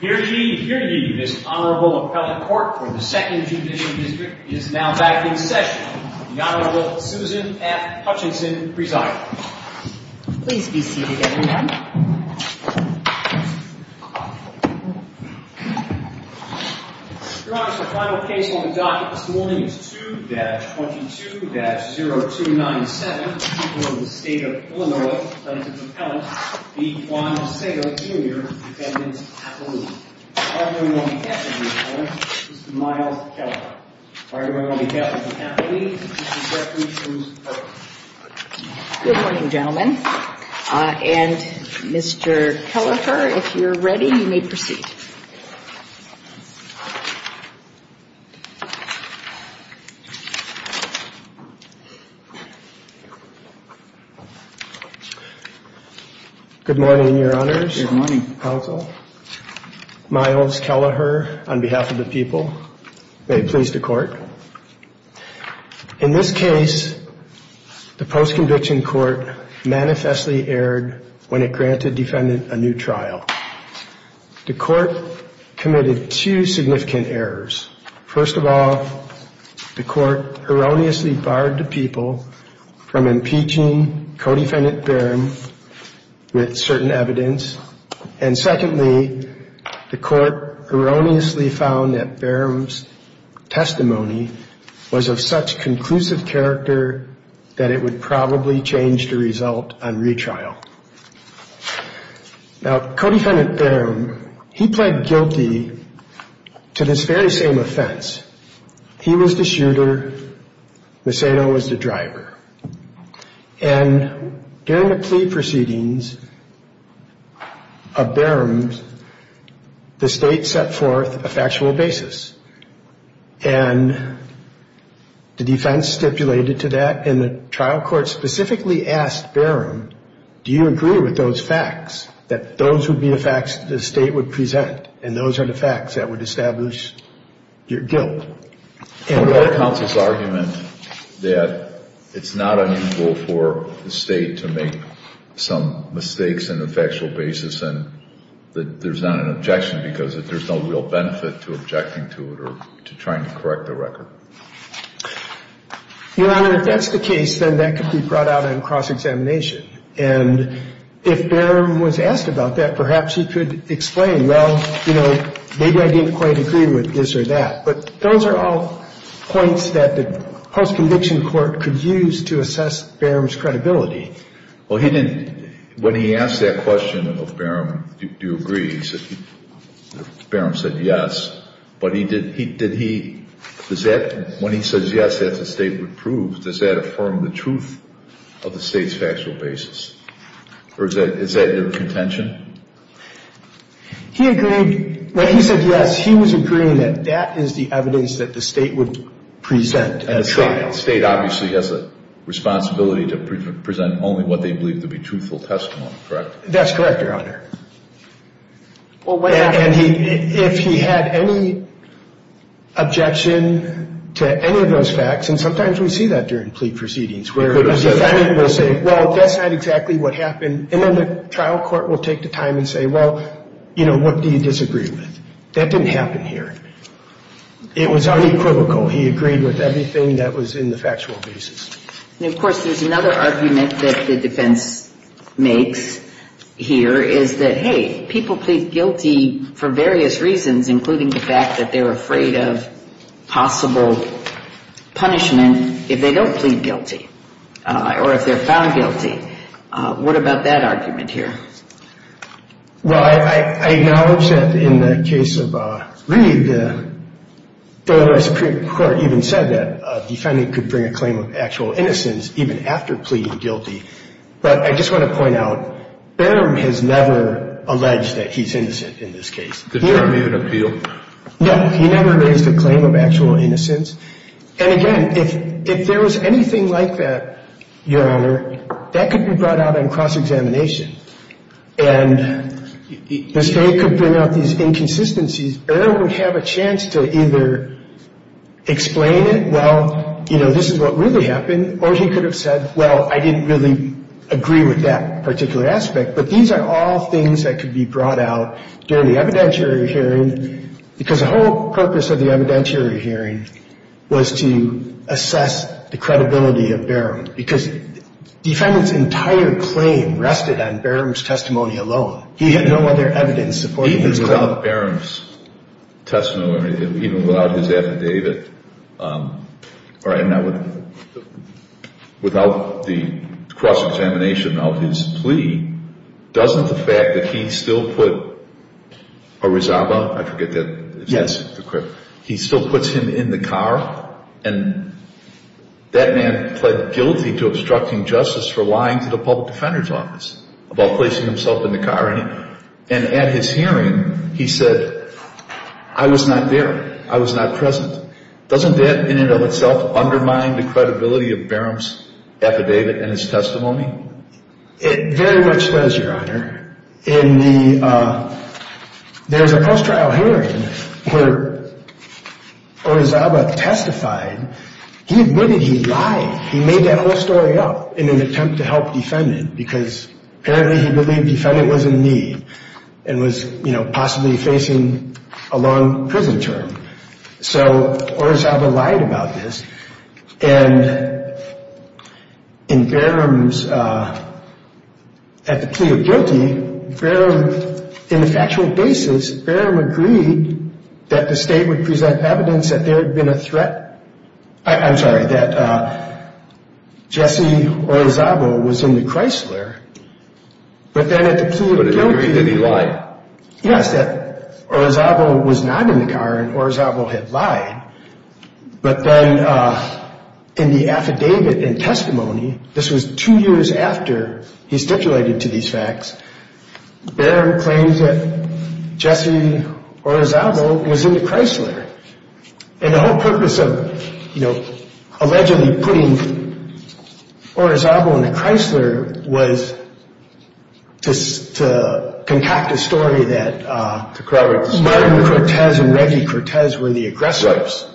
Here to give you this Honorable Appellate Court for the Second Judicial District is now back in session. The Honorable Susan F. Hutchinson presiding. Please be seated everyone. Your Honor, the final case on the docket this morning is 2-22-0297, for the people of the state of Illinois, sentenced Appellant B. Juan Macedo Jr., defendant's appellee. Firing away on behalf of the appellant, Mr. Myles Kelleher. Firing away on behalf of the appellee, Mr. Jeffrey Shrews Perkins. Good morning gentlemen. And Mr. Kelleher, if you're ready, you may proceed. Good morning, Your Honors. Good morning, Counsel. Myles Kelleher, on behalf of the people, may it please the Court. In this case, the post-conviction court manifestly erred when it granted defendant a new trial. The court committed two significant errors. First of all, the court erroneously barred the people from impeaching co-defendant Barham with certain evidence. And secondly, the court erroneously found that Barham's testimony was of such conclusive character that it would probably change the result on retrial. Now, co-defendant Barham, he pled guilty to this very same offense. He was the shooter. Macedo was the driver. And during the plea proceedings of Barham, the State set forth a factual basis. And the defense stipulated to that, and the trial court specifically asked Barham, do you agree with those facts, that those would be the facts that the State would present, and those are the facts that would establish your guilt? And what about counsel's argument that it's not unequal for the State to make some mistakes on a factual basis and that there's not an objection because there's no real benefit to objecting to it or to trying to correct the record? Your Honor, if that's the case, then that could be brought out on cross-examination. And if Barham was asked about that, perhaps he could explain, well, you know, maybe I didn't quite agree with this or that. But those are all points that the post-conviction court could use to assess Barham's credibility. Well, he didn't. When he asked that question of Barham, do you agree, Barham said yes. But he did he, did he, does that, when he says yes that the State would prove, does that affirm the truth of the State's factual basis? Or is that your contention? He agreed. When he said yes, he was agreeing that that is the evidence that the State would present at a trial. The State obviously has a responsibility to present only what they believe to be truthful testimony, correct? That's correct, Your Honor. And if he had any objection to any of those facts, and sometimes we see that during plea proceedings where a defendant will say, well, that's not exactly what happened. And then the trial court will take the time and say, well, you know, what do you disagree with? That didn't happen here. It was unequivocal. He agreed with everything that was in the factual basis. And, of course, there's another argument that the defense makes here is that, hey, people plead guilty for various reasons, including the fact that they're afraid of possible punishment if they don't plead guilty or if they're found guilty. What about that argument here? Well, I acknowledge that in the case of Reed, the Federal Supreme Court even said that a defendant could bring a claim of actual innocence even after pleading guilty. But I just want to point out, Barham has never alleged that he's innocent in this case. Did Barham even appeal? No. He never raised a claim of actual innocence. And, again, if there was anything like that, Your Honor, that could be brought out on cross-examination. And the State could bring out these inconsistencies. Barham would have a chance to either explain it, well, you know, this is what really happened, or he could have said, well, I didn't really agree with that particular aspect. But these are all things that could be brought out during the evidentiary hearing because the whole purpose of the evidentiary hearing was to assess the credibility of Barham because the defendant's entire claim rested on Barham's testimony alone. He had no other evidence supporting his claim. Even without Barham's testimony, even without his affidavit, or even without the cross-examination of his plea, doesn't the fact that he still put Orizaba, I forget if that's the correct word, he still puts him in the car, and that man pled guilty to obstructing justice for lying to the public defender's office about placing himself in the car. And at his hearing, he said, I was not there. I was not present. Doesn't that in and of itself undermine the credibility of Barham's affidavit and his testimony? It very much does, Your Honor. There's a post-trial hearing where Orizaba testified. He admitted he lied. He made that whole story up in an attempt to help the defendant because apparently he believed the defendant was in need and was possibly facing a long prison term. So Orizaba lied about this. And in Barham's, at the plea of guilty, Barham, in the factual basis, Barham agreed that the state would present evidence that there had been a threat. I'm sorry, that Jesse Orizaba was in the Chrysler. But then at the plea of guilty, he lied. Yes, that Orizaba was not in the car and Orizaba had lied. But then in the affidavit and testimony, this was two years after he stipulated to these facts, Barham claims that Jesse Orizaba was in the Chrysler. And the whole purpose of, you know, allegedly putting Orizaba in the Chrysler was to concoct a story that Barham Cortez and Reggie Cortez were the aggressors.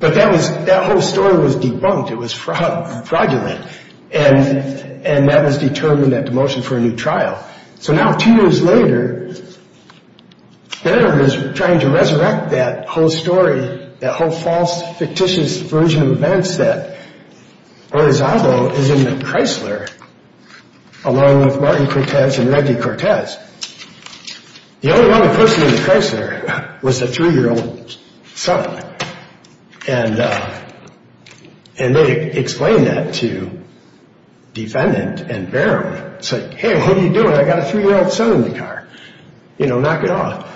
But that whole story was debunked. It was fraudulent. And that was determined at the motion for a new trial. So now two years later, Barham is trying to resurrect that whole story, that whole false, fictitious version of events that Orizaba is in the Chrysler, along with Martin Cortez and Reggie Cortez. The only other person in the Chrysler was the three-year-old son. And they explain that to defendant and Barham. It's like, hey, what are you doing? I got a three-year-old son in the car. You know, knock it off.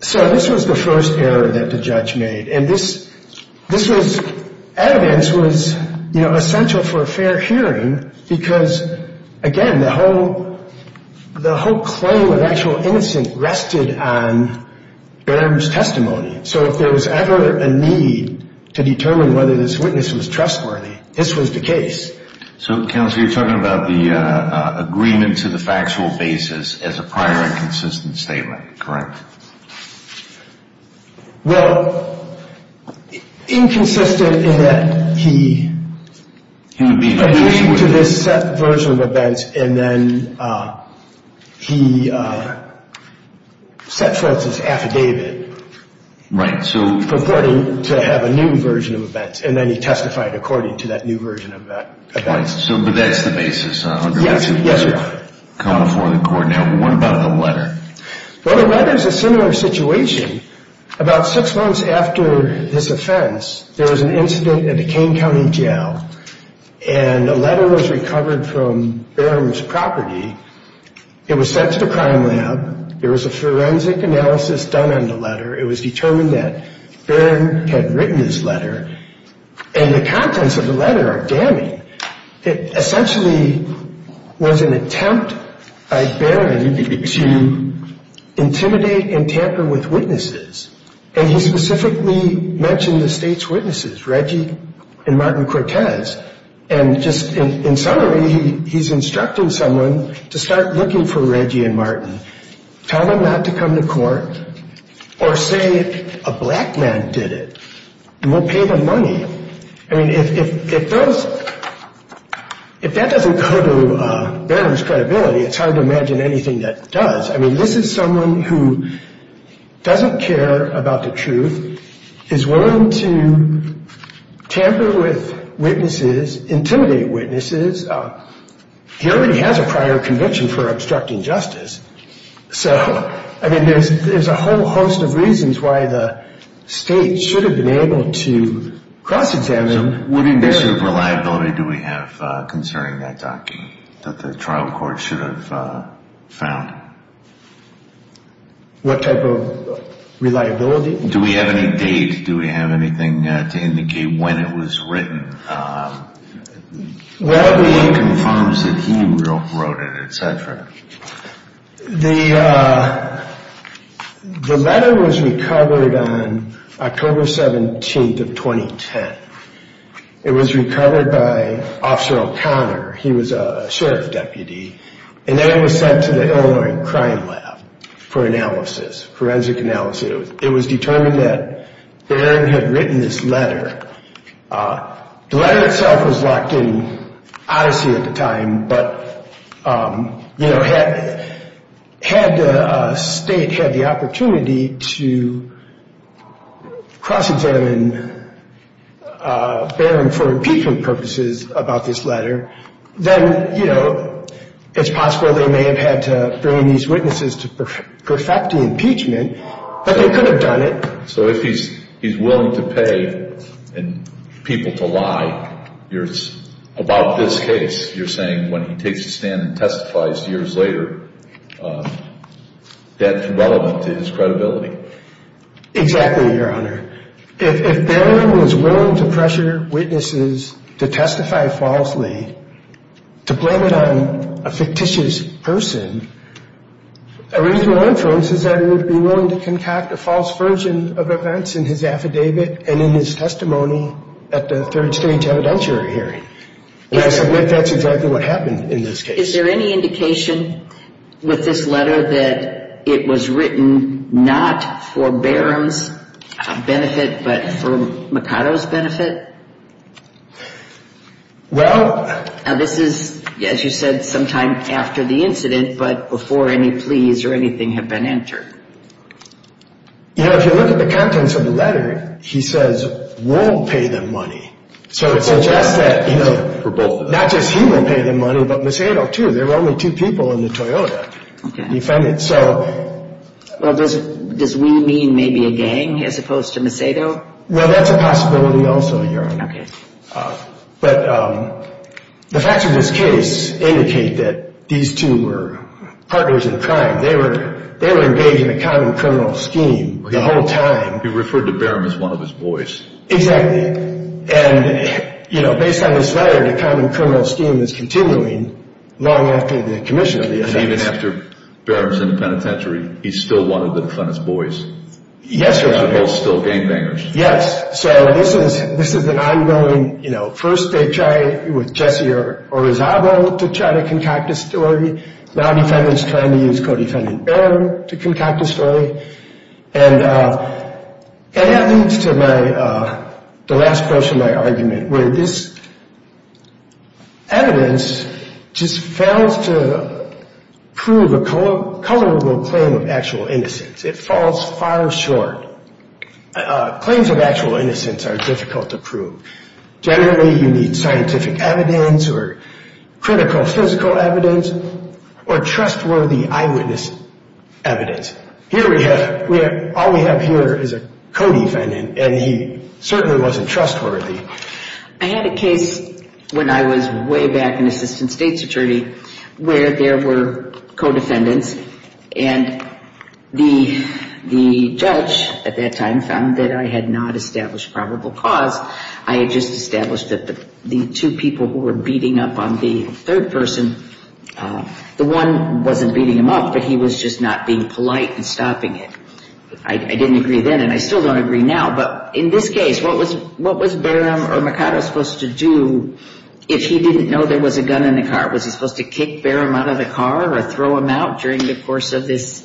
So this was the first error that the judge made. And this evidence was, you know, essential for a fair hearing because, again, the whole clue of actual innocence rested on Barham's testimony. So if there was ever a need to determine whether this witness was trustworthy, this was the case. So, counsel, you're talking about the agreement to the factual basis as a prior inconsistent statement, correct? Well, inconsistent in that he agreed to this set version of events, and then he set forth his affidavit purporting to have a new version of events. And then he testified according to that new version of events. So that's the basis. Yes, yes, Your Honor. Coming before the court. Now, what about the letter? Well, the letter is a similar situation. About six months after this offense, there was an incident at the Kane County Jail, and a letter was recovered from Barham's property. There was a forensic analysis done on the letter. It was determined that Barham had written this letter, and the contents of the letter are damning. It essentially was an attempt by Barham to intimidate and tamper with witnesses, and he specifically mentioned the state's witnesses, Reggie and Martin Cortez. And just in summary, he's instructing someone to start looking for Reggie and Martin, tell them not to come to court, or say a black man did it, and we'll pay them money. I mean, if that doesn't go to Barham's credibility, it's hard to imagine anything that does. I mean, this is someone who doesn't care about the truth, is willing to tamper with witnesses, intimidate witnesses. He already has a prior conviction for obstructing justice. So, I mean, there's a whole host of reasons why the state should have been able to cross-examine Barham. So what indiction of reliability do we have concerning that document that the trial court should have found? What type of reliability? Do we have any date? Do we have anything to indicate when it was written? Whether it confirms that he wrote it, et cetera. The letter was recovered on October 17th of 2010. It was recovered by Officer O'Connor. He was a sheriff's deputy, and then it was sent to the Illinois Crime Lab for analysis, forensic analysis. It was determined that Barham had written this letter. The letter itself was locked in Odyssey at the time, but, you know, had the state had the opportunity to cross-examine Barham for impeachment purposes about this letter, then, you know, it's possible they may have had to bring these witnesses to perfect the impeachment, but they could have done it. So if he's willing to pay people to lie about this case, you're saying when he takes a stand and testifies years later, that's relevant to his credibility? Exactly, Your Honor. If Barham was willing to pressure witnesses to testify falsely, to blame it on a fictitious person, a reasonable inference is that he would be willing to concoct a false version of events in his affidavit and in his testimony at the third stage evidentiary hearing. And I submit that's exactly what happened in this case. Is there any indication with this letter that it was written not for Barham's benefit, but for Mercado's benefit? Well. This is, as you said, sometime after the incident, but before any pleas or anything had been entered. You know, if you look at the contents of the letter, he says we'll pay them money. So it suggests that not just he will pay them money, but Mercado, too. There were only two people in the Toyota defendant. So. Well, does we mean maybe a gang as opposed to Mercado? Well, that's a possibility also, Your Honor. Okay. But the facts of this case indicate that these two were partners in crime. They were engaged in a common criminal scheme the whole time. You referred to Barham as one of his boys. Exactly. And, you know, based on this letter, the common criminal scheme is continuing long after the commission of the offense. And even after Barham's in the penitentiary, he's still one of the defendant's boys. Yes, Your Honor. They're both still gangbangers. Yes. So this is an ongoing, you know, first they try with Jesse Orozabo to try to concoct a story. Now the defendant is trying to use co-defendant Barham to concoct a story. And that leads to the last portion of my argument, where this evidence just fails to prove a colorable claim of actual innocence. It falls far short. Claims of actual innocence are difficult to prove. Generally, you need scientific evidence or critical physical evidence or trustworthy eyewitness evidence. Here we have, all we have here is a co-defendant, and he certainly wasn't trustworthy. I had a case when I was way back an assistant state's attorney where there were co-defendants, and the judge at that time found that I had not established probable cause. I had just established that the two people who were beating up on the third person, the one wasn't beating him up, but he was just not being polite and stopping it. I didn't agree then, and I still don't agree now. But in this case, what was Barham or Mercado supposed to do if he didn't know there was a gun in the car? Was he supposed to kick Barham out of the car or throw him out during the course of this,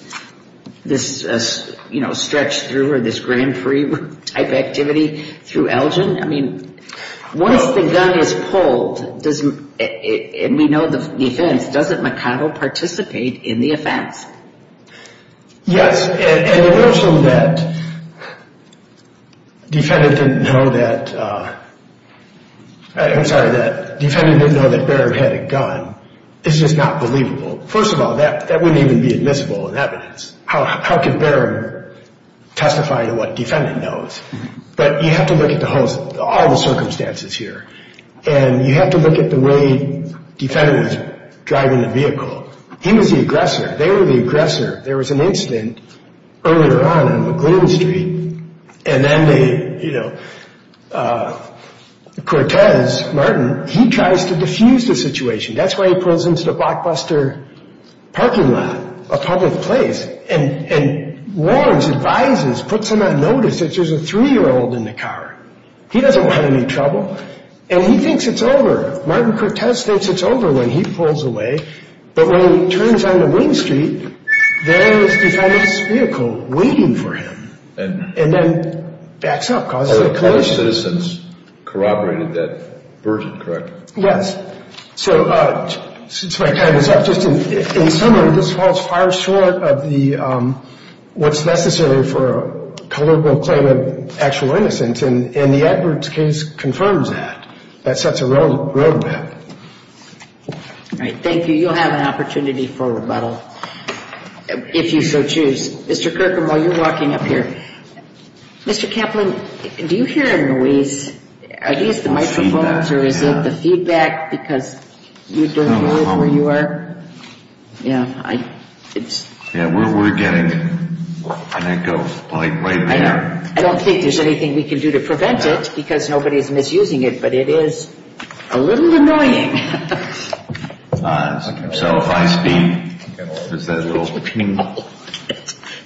you know, stretch through or this Grand Prix type activity through Elgin? Once the gun is pulled, and we know the defense, doesn't Mercado participate in the offense? Yes, and the notion that defendant didn't know that Barham had a gun is just not believable. First of all, that wouldn't even be admissible in evidence. How could Barham testify to what defendant knows? But you have to look at the whole, all the circumstances here, and you have to look at the way defendants are driving the vehicle. He was the aggressor. They were the aggressor. There was an incident earlier on on McLuhan Street, and then they, you know, Cortez, Martin, he tries to diffuse the situation. That's why he pulls into the blockbuster parking lot, a public place, and warns, advises, puts him on notice that there's a three-year-old in the car. He doesn't want any trouble, and he thinks it's over. Martin Cortez thinks it's over when he pulls away. But when he turns onto Wing Street, there's the defense vehicle waiting for him, and then backs up, causes a collision. Other citizens corroborated that version, correct? Yes. So since my time is up, just in summary, this falls far short of what's necessary for a colloquial claim of actual innocence, and the Edwards case confirms that. That sets a road map. All right. Thank you. You'll have an opportunity for rebuttal if you so choose. Mr. Kirkham, while you're walking up here, Mr. Kaplan, do you hear a noise? Are these the microphones, or is it the feedback because you don't know where you are? Yeah. Yeah, we're getting an echo right there. I don't think there's anything we can do to prevent it because nobody's misusing it, but it is a little annoying. So if I speak, does that little ping?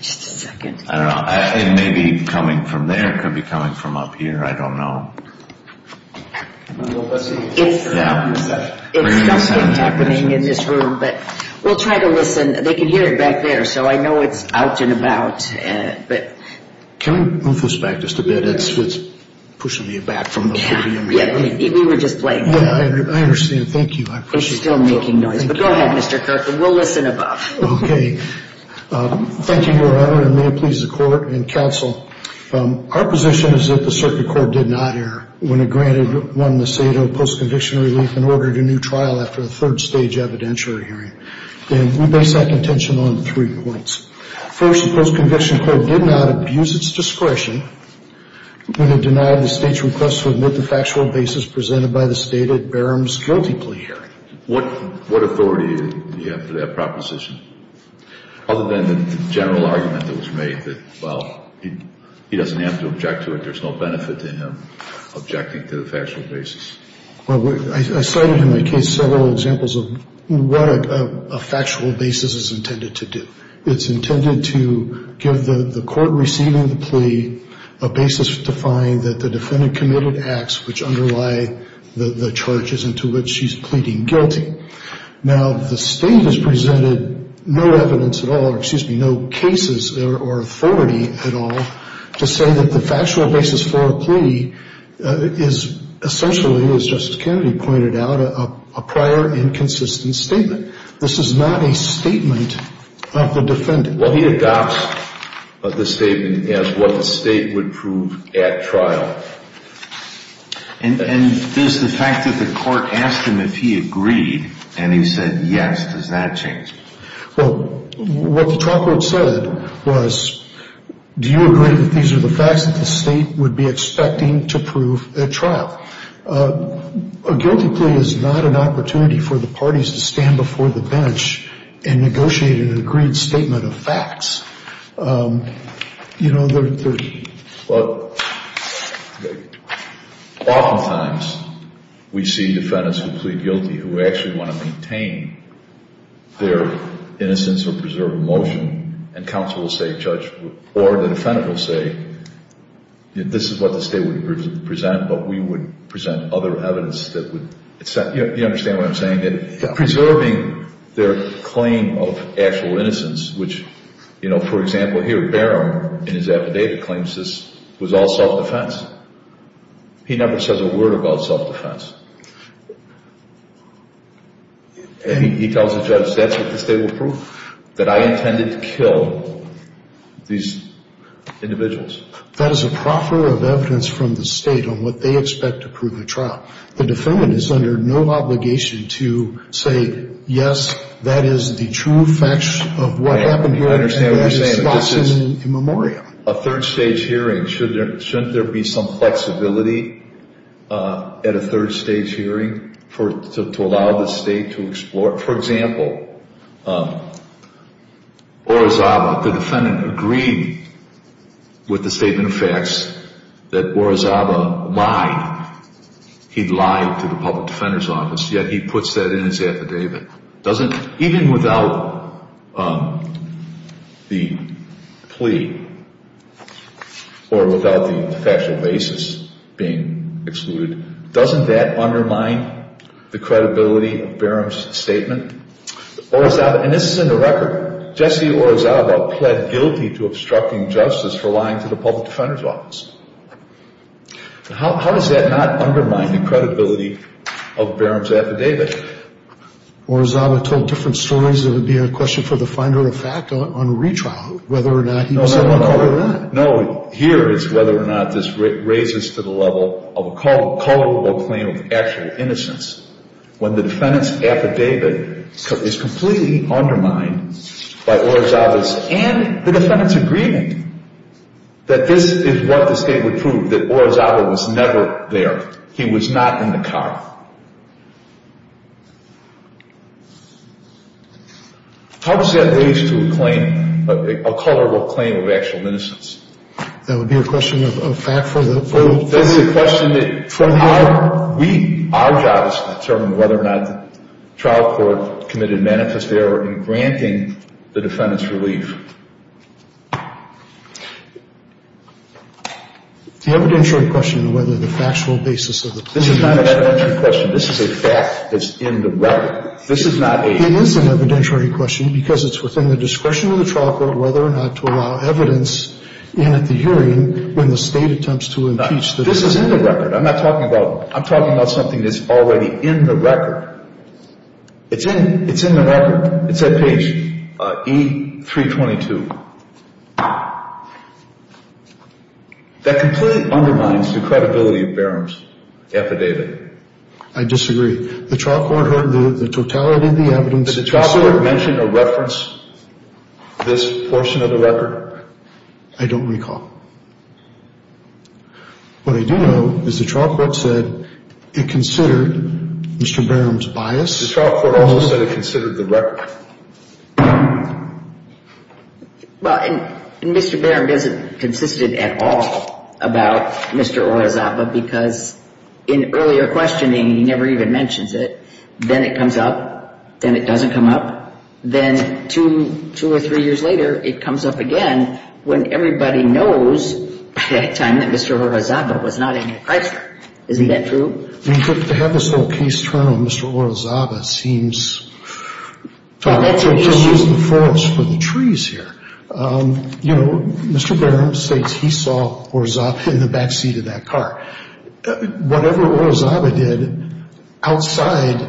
Just a second. I don't know. It may be coming from there. It could be coming from up here. I don't know. It's something happening in this room, but we'll try to listen. They can hear it back there, so I know it's out and about. Can we move this back just a bit? It's pushing me back from the podium. We were just playing. I understand. Thank you. It's still making noise, but go ahead, Mr. Kirkham. We'll listen above. Okay. Thank you, Your Honor, and may it please the Court and counsel, our position is that the circuit court did not err when it granted one the state of post-conviction relief and ordered a new trial after the third stage evidentiary hearing, and we base that contention on three points. First, the post-conviction court did not abuse its discretion when it denied the state's request to admit the factual basis presented by the state at Barham's guilty plea hearing. What authority do you have for that proposition, other than the general argument that was made that, well, he doesn't have to object to it, there's no benefit to him objecting to the factual basis? Well, I cited in my case several examples of what a factual basis is intended to do. It's intended to give the court receiving the plea a basis to find that the defendant committed acts which underlie the charges into which she's pleading guilty. Now, the state has presented no evidence at all, or excuse me, no cases or authority at all, to say that the factual basis for a plea is essentially, as Justice Kennedy pointed out, a prior inconsistent statement. This is not a statement of the defendant. What he adopts of the statement is what the state would prove at trial. And is the fact that the court asked him if he agreed and he said yes, does that change? Well, what the trial court said was, do you agree that these are the facts that the state would be expecting to prove at trial? A guilty plea is not an opportunity for the parties to stand before the bench and negotiate an agreed statement of facts. You know, there's the... Well, oftentimes we see defendants who plead guilty who actually want to maintain their innocence or preserve emotion, and counsel will say, judge, or the defendant will say, this is what the state would present, but we would present other evidence that would... You understand what I'm saying? Preserving their claim of actual innocence, which, you know, for example here, Barham in his affidavit claims this was all self-defense. He never says a word about self-defense. He tells the judge, that's what the state would prove, that I intended to kill these individuals. That is a proffer of evidence from the state on what they expect to prove at trial. The defendant is under no obligation to say, yes, that is the true facts of what happened here. I understand what you're saying. And there's a spot in the memoriam. A third-stage hearing, shouldn't there be some flexibility at a third-stage hearing to allow the state to explore? For example, Orizaba, the defendant agreed with the statement of facts that Orizaba lied. He lied to the public defender's office, yet he puts that in his affidavit. Even without the plea or without the factual basis being excluded, doesn't that undermine the credibility of Barham's statement? And this is in the record. Jesse Orizaba pled guilty to obstructing justice for lying to the public defender's office. How does that not undermine the credibility of Barham's affidavit? Orizaba told different stories. It would be a question for the finder of fact on retrial, whether or not he was able to cover that. No, here is whether or not this raises to the level of a culpable claim of actual innocence, when the defendant's affidavit is completely undermined by Orizaba's and the defendant's agreement that this is what the state would prove, that Orizaba was never there. He was not in the car. How does that raise to a claim, a culpable claim of actual innocence? That would be a question of fact for the defender? That's a question that we, our job is to determine whether or not the trial court committed manifest error in granting the defendant's relief. The evidentiary question of whether the factual basis of the plea is true. This is not an evidentiary question. This is a fact that's in the record. This is not a... It is an evidentiary question because it's within the discretion of the trial court whether or not to allow evidence in at the hearing when the state attempts to impeach the defendant. This is in the record. I'm not talking about... I'm talking about something that's already in the record. It's in. It's in the record. It's at page E322. That completely undermines the credibility of Barham's affidavit. I disagree. The trial court heard the totality of the evidence. Did the trial court mention or reference this portion of the record? I don't recall. What I do know is the trial court said it considered Mr. Barham's bias. The trial court also said it considered the record. Well, and Mr. Barham doesn't consist at all about Mr. Orozaba because in earlier questioning, he never even mentions it. Then it comes up. Then it doesn't come up. Then two or three years later, it comes up again when everybody knows at that time that Mr. Orozaba was not in the crisis. Isn't that true? Well, to have this whole case turn on Mr. Orozaba seems... Well, that's the issue. ...to use the forest for the trees here. You know, Mr. Barham states he saw Orozaba in the backseat of that car. Whatever Orozaba did outside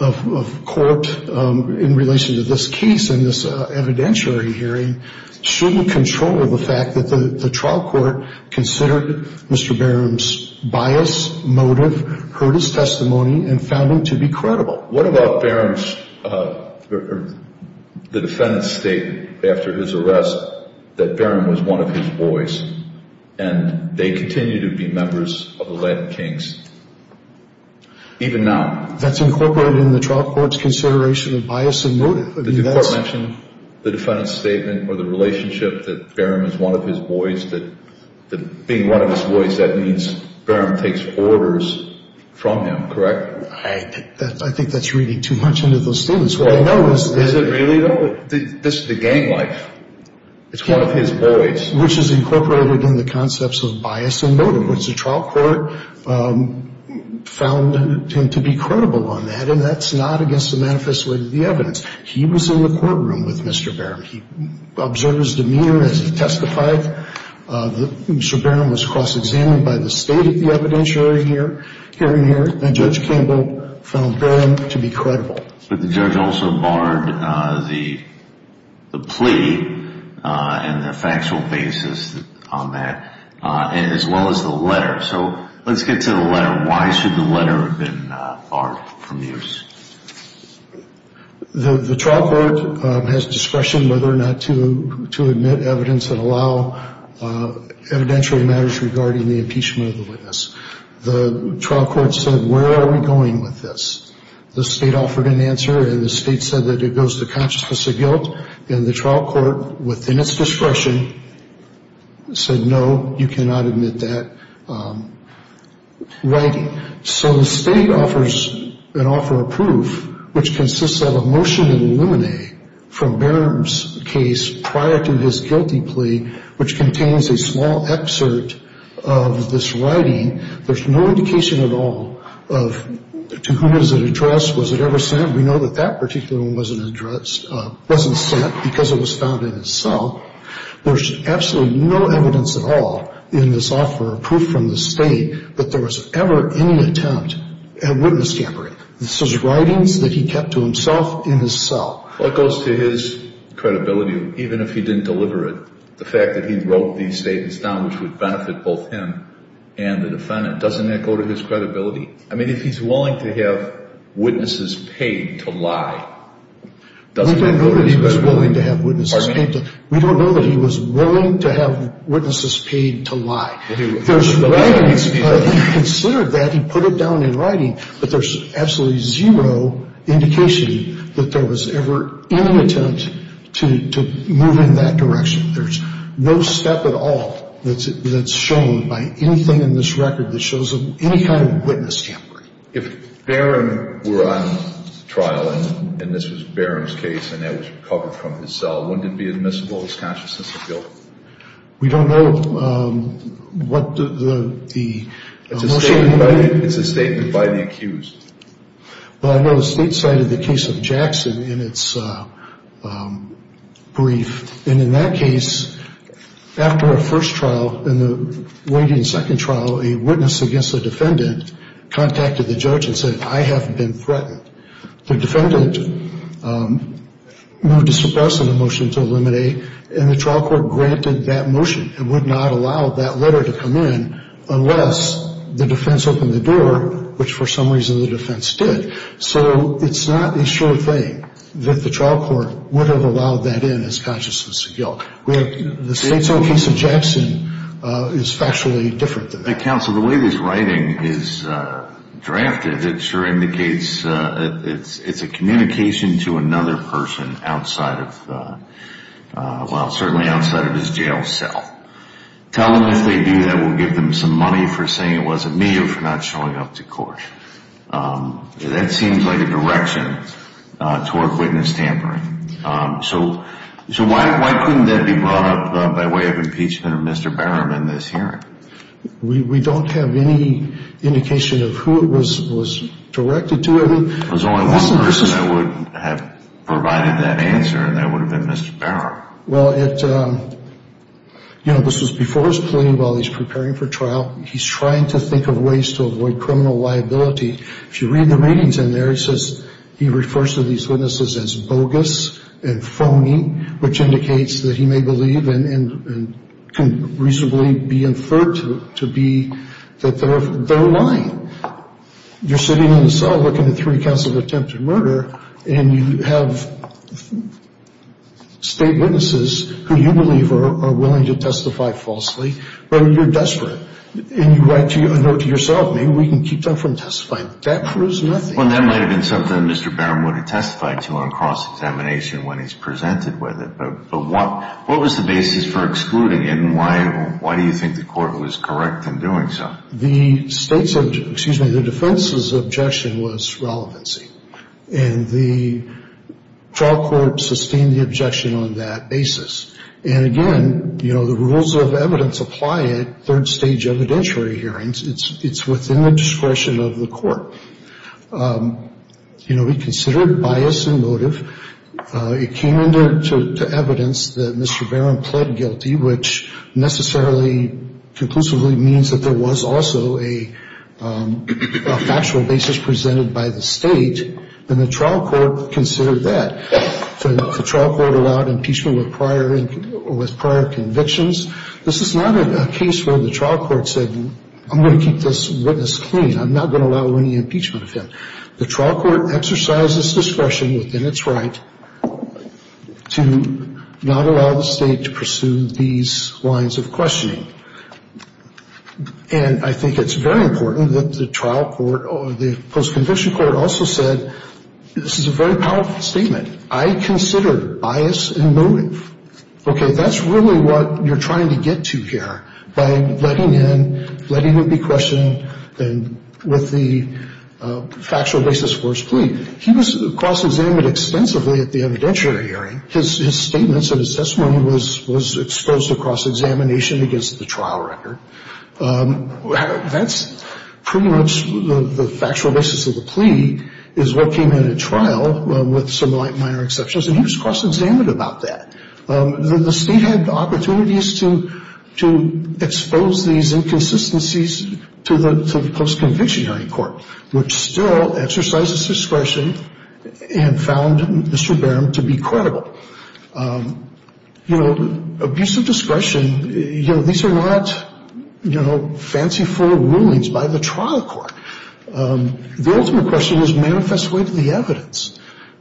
of court in relation to this case and this evidentiary hearing shouldn't control the fact that the trial court considered Mr. Barham's bias, motive, heard his testimony, and found him to be credible. What about Barham's or the defendant's statement after his arrest that Barham was one of his boys and they continue to be members of the Latin Kings even now? That's incorporated in the trial court's consideration of bias and motive. Did the court mention the defendant's statement or the relationship that Barham is one of his boys, that being one of his boys, that means Barham takes orders from him, correct? I think that's reading too much into those things. Is it really, though? This is the gang life. It's one of his boys. Which is incorporated in the concepts of bias and motive. The trial court found him to be credible on that, and that's not against the manifest way of the evidence. He was in the courtroom with Mr. Barham. He observed his demeanor as he testified. Mr. Barham was cross-examined by the state at the evidentiary hearing here, and Judge Campbell found Barham to be credible. But the judge also barred the plea and the factual basis on that, as well as the letter. So let's get to the letter. Why should the letter have been barred from use? The trial court has discretion whether or not to admit evidence and allow evidentiary matters regarding the impeachment of the witness. The trial court said, where are we going with this? The state offered an answer, and the state said that it goes to consciousness of guilt. And the trial court, within its discretion, said, no, you cannot admit that. So the state offers an offer of proof, which consists of a motion in Luminae from Barham's case prior to his guilty plea, which contains a small excerpt of this writing. There's no indication at all of to whom it was addressed, was it ever sent. We know that that particular one wasn't addressed, wasn't sent, because it was found in his cell. There's absolutely no evidence at all in this offer of proof from the state that there was ever any attempt at witness tampering. This was writings that he kept to himself in his cell. Well, it goes to his credibility, even if he didn't deliver it, the fact that he wrote these statements down, which would benefit both him and the defendant. Doesn't that go to his credibility? I mean, if he's willing to have witnesses paid to lie, doesn't that go to his credibility? We don't know that he was willing to have witnesses paid to lie. He considered that. He put it down in writing. But there's absolutely zero indication that there was ever any attempt to move in that direction. There's no step at all that's shown by anything in this record that shows any kind of witness tampering. If Barron were on trial, and this was Barron's case, and that was recovered from his cell, wouldn't it be admissible that his consciousness was guilty? We don't know what the motion would be. It's a statement by the accused. Well, I know the state cited the case of Jackson in its brief. And in that case, after a first trial, in the waiting second trial, a witness against a defendant contacted the judge and said, I have been threatened. The defendant moved to suppress the motion to eliminate, and the trial court granted that motion and would not allow that letter to come in unless the defense opened the door, which for some reason the defense did. So it's not a sure thing that the trial court would have allowed that in as consciousness of guilt. The state's own case of Jackson is factually different. Counsel, the way this writing is drafted, it sure indicates it's a communication to another person outside of, well, certainly outside of his jail cell. Tell them if they do that, we'll give them some money for saying it wasn't me or for not showing up to court. That seems like a direction toward witness tampering. So why couldn't that be brought up by way of impeachment of Mr. Barham in this hearing? We don't have any indication of who it was directed to. There's only one person that would have provided that answer, and that would have been Mr. Barham. Well, this was before his plea while he's preparing for trial. He's trying to think of ways to avoid criminal liability. If you read the readings in there, it says he refers to these witnesses as bogus and phony, which indicates that he may believe and can reasonably be inferred to be that they're lying. You're sitting in the cell looking at three counts of attempted murder, and you have state witnesses who you believe are willing to testify falsely, but you're desperate. And you write a note to yourself, maybe we can keep them from testifying. That proves nothing. Well, that might have been something Mr. Barham would have testified to on cross-examination when he's presented with it. But what was the basis for excluding, and why do you think the court was correct in doing so? The defense's objection was relevancy, and the trial court sustained the objection on that basis. And, again, you know, the rules of evidence apply at third-stage evidentiary hearings. It's within the discretion of the court. You know, we considered bias and motive. It came into evidence that Mr. Barham pled guilty, which necessarily conclusively means that there was also a factual basis presented by the state, and the trial court considered that. The trial court allowed impeachment with prior convictions. This is not a case where the trial court said, I'm going to keep this witness clean. I'm not going to allow any impeachment of him. The trial court exercised its discretion within its right to not allow the state to pursue these lines of questioning. And I think it's very important that the trial court or the post-conviction court also said this is a very powerful statement. I considered bias and motive. Okay, that's really what you're trying to get to here by letting in, letting him be questioned, and with the factual basis for his plea. He was cross-examined extensively at the evidentiary hearing. His statements and his testimony was exposed to cross-examination against the trial record. That's pretty much the factual basis of the plea is what came in at trial with some minor exceptions, and he was cross-examined about that. The state had opportunities to expose these inconsistencies to the post-conviction hearing court, which still exercised its discretion and found Mr. Barham to be credible. You know, abuse of discretion, you know, these are not, you know, fancy full rulings by the trial court. The ultimate question is manifest way to the evidence.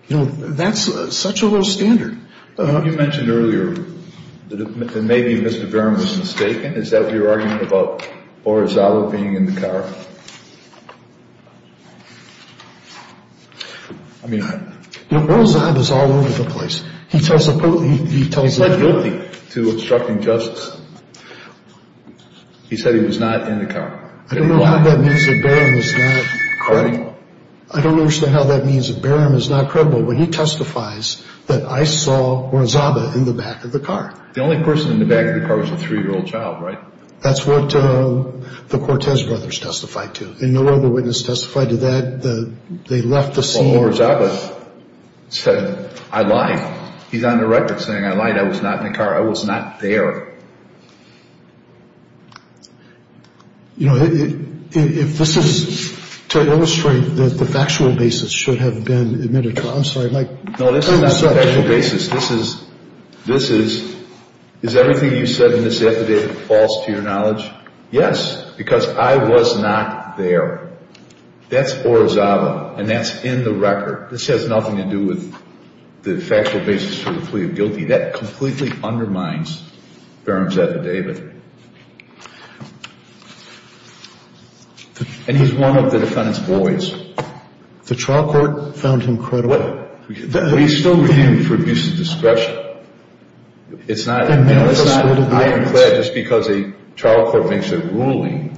You know, that's such a low standard. You mentioned earlier that maybe Mr. Barham was mistaken. Is that your argument about Oral Zob being in the car? I mean, Oral Zob is all over the place. He's not guilty to obstructing justice. He said he was not in the car. I don't know how that means that Barham is not credible. I don't understand how that means that Barham is not credible when he testifies that I saw Oral Zob in the back of the car. The only person in the back of the car was a 3-year-old child, right? That's what the Cortez brothers testified to, and no other witness testified to that. They left the scene. Oral Zob said, I lied. He's on the record saying I lied. I was not in the car. I was not there. You know, if this is to illustrate that the factual basis should have been admitted to trial. I'm sorry, Mike. No, this is not the factual basis. This is, is everything you said in this affidavit false to your knowledge? Yes, because I was not there. That's Oral Zob and that's in the record. This has nothing to do with the factual basis for the plea of guilty. That completely undermines Barham's affidavit. And he's one of the defendant's boys. The trial court found him credible. But he's still renewed for abuse of discretion. It's not, you know, it's not, I am glad just because a trial court makes a ruling,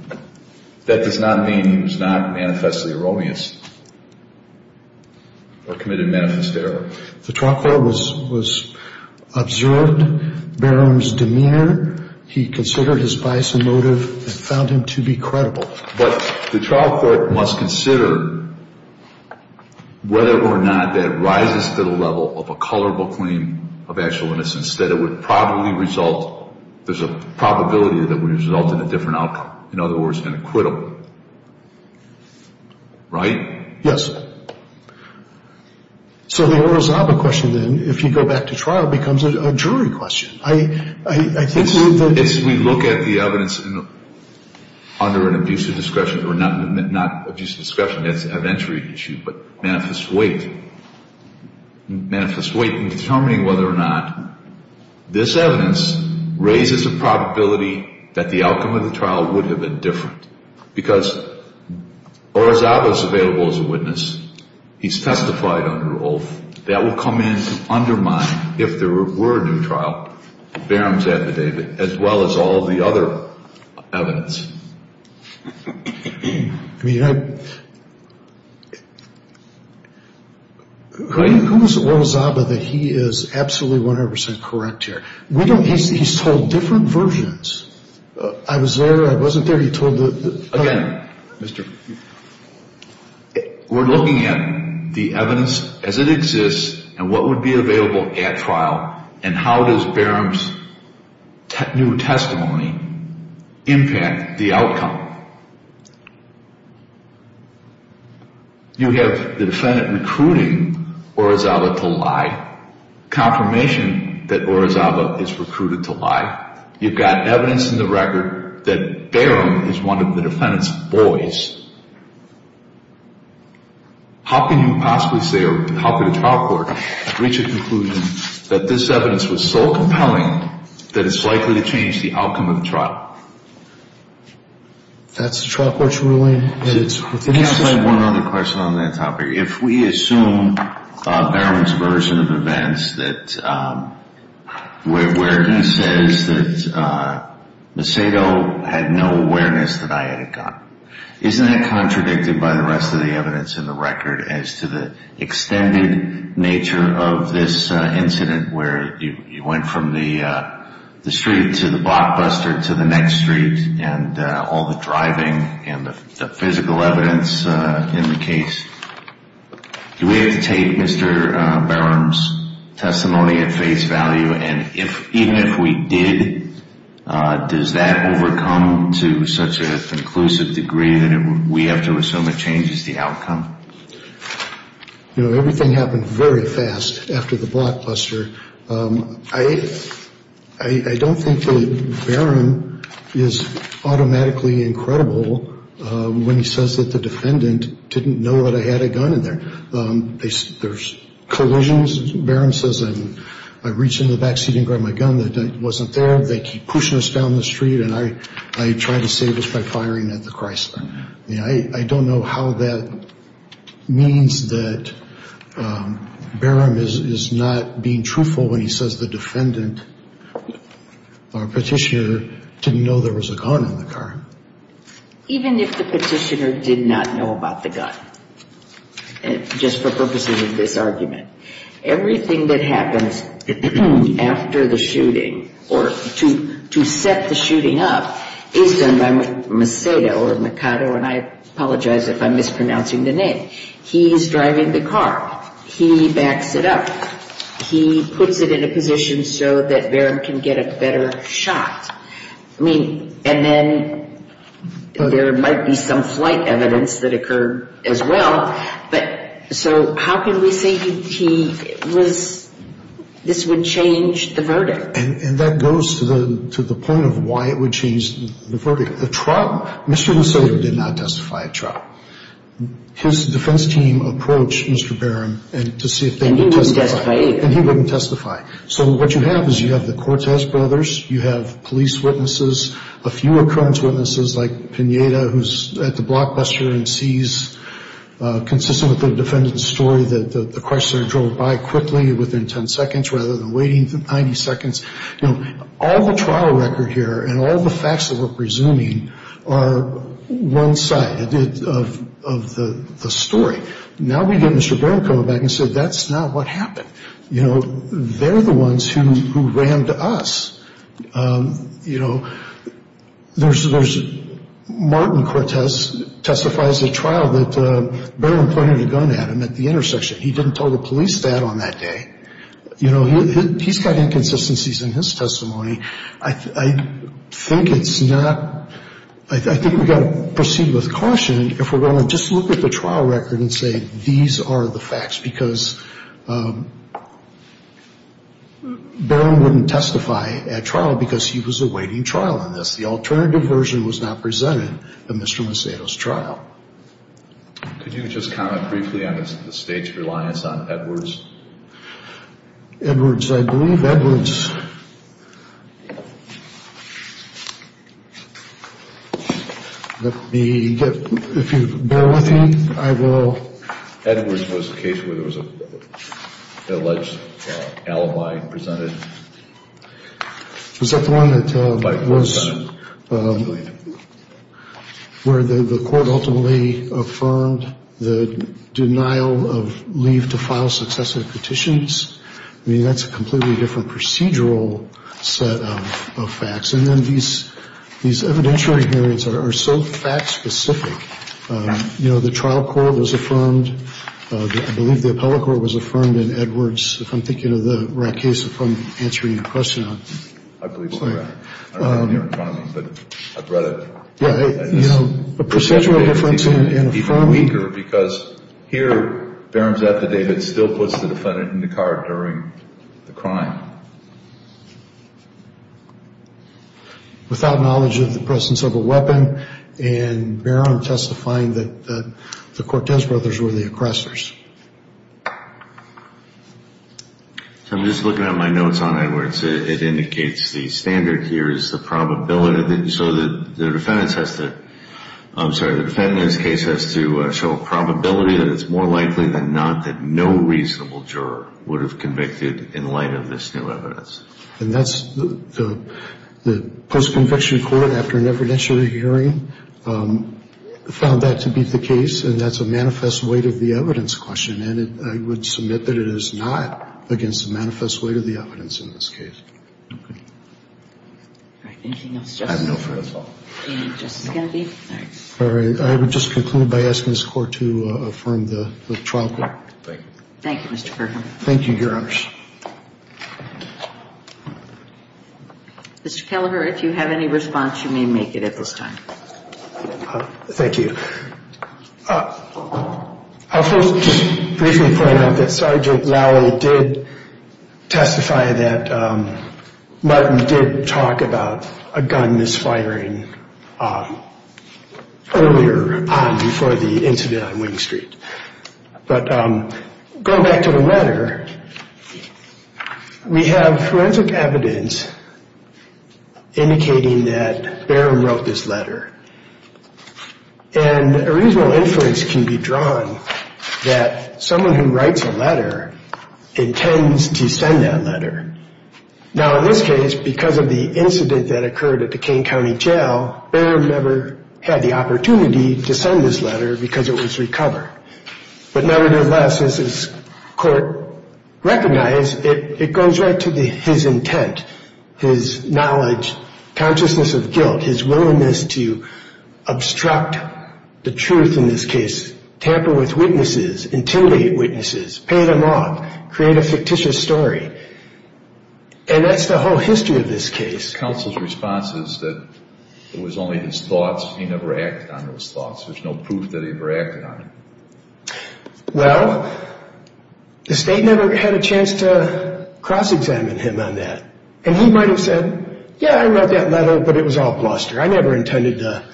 that does not mean he was not manifestly erroneous or committed manifest error. The trial court was, was observed Barham's demeanor. He considered his bias and motive and found him to be credible. But the trial court must consider whether or not that rises to the level of a colorable claim of actual innocence, that it would probably result, there's a probability that it would result in a different outcome. In other words, an acquittal. Right? Yes. So the Oral Zob question then, if you go back to trial, becomes a jury question. If we look at the evidence under an abuse of discretion, or not abuse of discretion, that's an entry issue, but manifest weight. Manifest weight in determining whether or not this evidence raises a probability that the outcome of the trial would have been different. Because Oral Zob is available as a witness. He's testified under oath. That will come in to undermine, if there were a new trial, Barham's affidavit, as well as all the other evidence. I mean, I, who was it, Oral Zob, that he is absolutely 100% correct here? We don't, he's told different versions. I was there, I wasn't there, he told the. Again, we're looking at the evidence as it exists, and what would be available at trial, and how does Barham's new testimony impact the outcome. You have the defendant recruiting Oral Zob to lie, confirmation that Oral Zob is recruited to lie. You've got evidence in the record that Barham is one of the defendant's boys. How can you possibly say, or how could a trial court reach a conclusion that this evidence was so compelling that it's likely to change the outcome of the trial? That's the trial court's ruling. Can I ask one other question on that topic? If we assume Barham's version of events where he says that Macedo had no awareness that I had a gun, isn't that contradicted by the rest of the evidence in the record as to the extended nature of this incident where you went from the street to the blockbuster to the next street, and all the driving and the physical evidence in the case? Do we have to take Mr. Barham's testimony at face value, and even if we did, does that overcome to such an inclusive degree that we have to assume it changes the outcome? You know, everything happened very fast after the blockbuster. I don't think that Barham is automatically incredible when he says that the defendant didn't know that I had a gun in there. There's collisions. Barham says, I reach in the backseat and grab my gun. It wasn't there. They keep pushing us down the street, and I try to save us by firing at the Chrysler. I don't know how that means that Barham is not being truthful when he says the defendant or petitioner didn't know there was a gun in the car. Even if the petitioner did not know about the gun, just for purposes of this argument, everything that happens after the shooting or to set the shooting up is done by Mercado, and I apologize if I'm mispronouncing the name. He's driving the car. He backs it up. He puts it in a position so that Barham can get a better shot. I mean, and then there might be some flight evidence that occurred as well, but so how can we say this would change the verdict? And that goes to the point of why it would change the verdict. The trial, Mr. Lucero did not testify at trial. His defense team approached Mr. Barham to see if they could testify. And he wouldn't testify either. And he wouldn't testify. So what you have is you have the Cortez brothers, you have police witnesses, a few occurrence witnesses like Pineda, who's at the blockbuster and sees, consistent with the defendant's story, that the car started to drive by quickly within 10 seconds rather than waiting 90 seconds. You know, all the trial record here and all the facts that we're presuming are one side of the story. Now we get Mr. Barham coming back and saying, that's not what happened. You know, they're the ones who rammed us. You know, Martin Cortez testifies at trial that Barham pointed a gun at him at the intersection. He didn't tell the police that on that day. You know, he's got inconsistencies in his testimony. I think it's not, I think we've got to proceed with caution if we're going to just look at the trial record and say these are the facts because Barham wouldn't testify at trial because he was awaiting trial on this. The alternative version was not presented in Mr. Macedo's trial. Could you just comment briefly on the state's reliance on Edwards? Edwards, I believe Edwards. Let me get, if you bear with me, I will. Edwards was the case where there was an alleged alibi presented. Was that the one that was, where the court ultimately affirmed the denial of leave to file successive petitions? I mean, that's a completely different procedure. A procedural set of facts. And then these evidentiary hearings are so fact-specific. You know, the trial court was affirmed. I believe the appellate court was affirmed in Edwards. If I'm thinking of the right case, if I'm answering your question. I believe so, yeah. I don't have it here in front of me, but I've read it. Yeah, you know, a procedural difference in affirming. Because here, Barron's affidavit still puts the defendant in the car during the crime. Without knowledge of the present civil weapon. And Barron testifying that the Cortez brothers were the aggressors. I'm just looking at my notes on Edwards. It indicates the standard here is the probability. So the defendant's case has to show a probability that it's more likely than not that no reasonable juror would have convicted in light of this new evidence. And that's the post-conviction court, after an evidentiary hearing, found that to be the case. And that's a manifest weight of the evidence question. And I would submit that it is not against the manifest weight of the evidence in this case. All right, anything else, Justice Kennedy? I have no further thoughts. All right, Justice Kennedy? All right. I would just conclude by asking this Court to affirm the trial court. Thank you. Thank you, Mr. Kirkham. Thank you, Your Honors. Mr. Kelleher, if you have any response, you may make it at this time. Thank you. I'll first briefly point out that Sergeant Lowell did testify that Martin did talk about a gun misfiring earlier on before the incident on Wing Street. But going back to the letter, we have forensic evidence indicating that Barron wrote this letter. And a reasonable inference can be drawn that someone who writes a letter intends to send that letter. Now in this case, because of the incident that occurred at the Kane County Jail, Barron never had the opportunity to send this letter because it was recovered. But nevertheless, as this Court recognized, it goes right to his intent, his knowledge, consciousness of guilt, his willingness to obstruct the truth in this case, tamper with witnesses, intimidate witnesses, pay them off, create a fictitious story. And that's the whole history of this case. Counsel's response is that it was only his thoughts, he never acted on those thoughts. There's no proof that he ever acted on them. Well, the State never had a chance to cross-examine him on that. And he might have said, yeah, I read that letter, but it was all bluster. I never intended to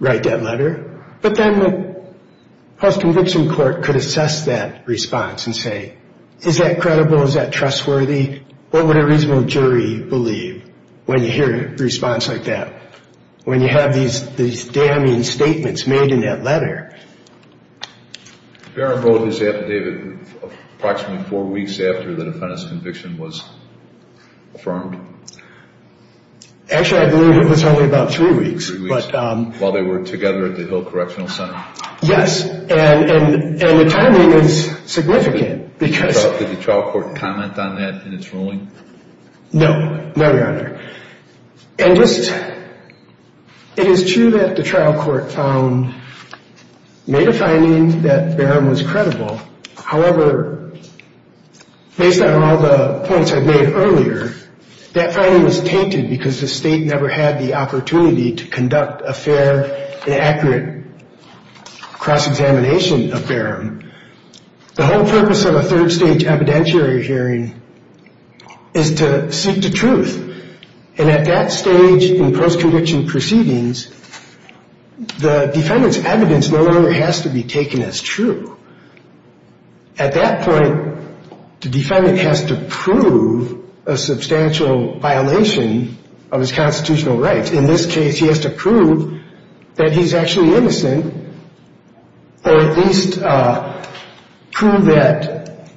write that letter. But then the House Conviction Court could assess that response and say, is that credible? Is that trustworthy? What would a reasonable jury believe when you hear a response like that, when you have these damning statements made in that letter? Barron wrote his affidavit approximately four weeks after the defendant's conviction was affirmed? Actually, I believe it was only about three weeks. Three weeks, while they were together at the Hill Correctional Center? Yes. And the timing is significant. Did the trial court comment on that in its ruling? No. No, Your Honor. And just, it is true that the trial court found, made a finding that Barron was credible. However, based on all the points I've made earlier, that finding was tainted because the State never had the opportunity to conduct a fair and accurate cross-examination of Barron. The whole purpose of a third-stage evidentiary hearing is to seek the truth. And at that stage in post-conviction proceedings, the defendant's evidence no longer has to be taken as true. At that point, the defendant has to prove a substantial violation of his constitutional rights. In this case, he has to prove that he's actually innocent, or at least prove that,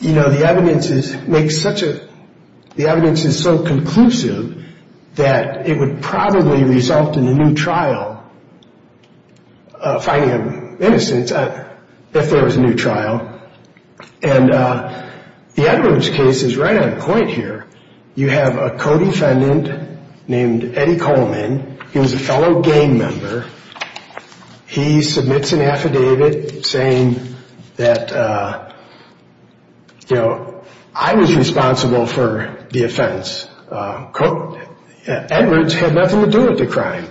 you know, the evidence is, makes such a, the evidence is so conclusive that it would probably result in a new trial, finding him innocent, if there was a new trial. And the Edwards case is right on point here. You have a co-defendant named Eddie Coleman. He was a fellow gang member. He submits an affidavit saying that, you know, I was responsible for the offense. Edwards had nothing to do with the crime.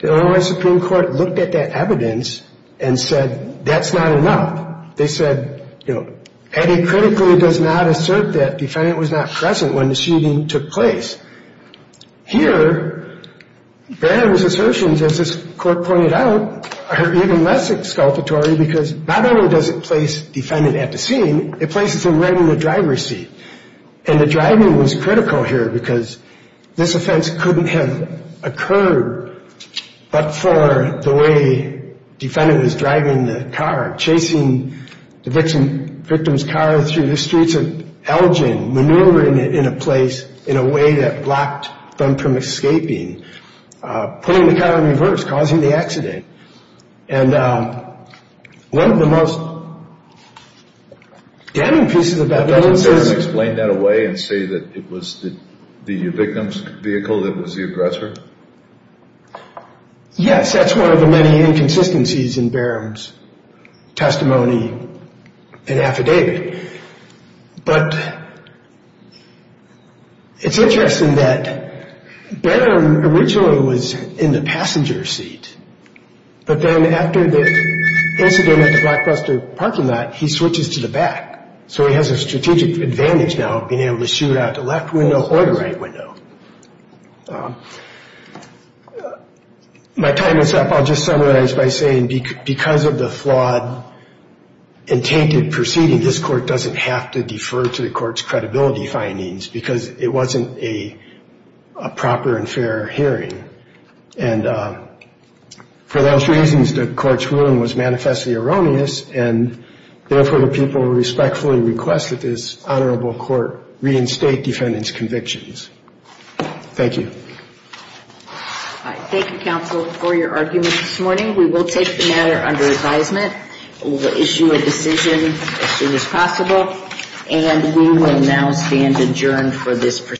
The Illinois Supreme Court looked at that evidence and said, that's not enough. They said, you know, Eddie critically does not assert that defendant was not present when the shooting took place. Here, Barron's assertions, as this court pointed out, are even less exculpatory because not only does it place defendant at the scene, it places him right in the driver's seat. And the driving was critical here because this offense couldn't have occurred but for the way defendant was driving the car, chasing the victim's car through the streets of Elgin, maneuvering it in a place in a way that blocked them from escaping, putting the car in reverse, causing the accident. And one of the most damning pieces of evidence is... Didn't Barron explain that away and say that it was the victim's vehicle that was the aggressor? Yes, that's one of the many inconsistencies in Barron's testimony and affidavit. But it's interesting that Barron originally was in the passenger seat, but then after the incident at the Blockbuster parking lot, he switches to the back. So he has a strategic advantage now of being able to shoot out the left window or the right window. My time is up. I'll just summarize by saying because of the flawed, intented proceeding, this court doesn't have to defer to the court's credibility findings because it wasn't a proper and fair hearing. And for those reasons, the court's ruling was manifestly erroneous and therefore the people respectfully request that this honorable court reinstate defendant's convictions. Thank you. Thank you, counsel, for your argument this morning. We will take the matter under advisement. We'll issue a decision as soon as possible. And we will now stand adjourned for this proceeding.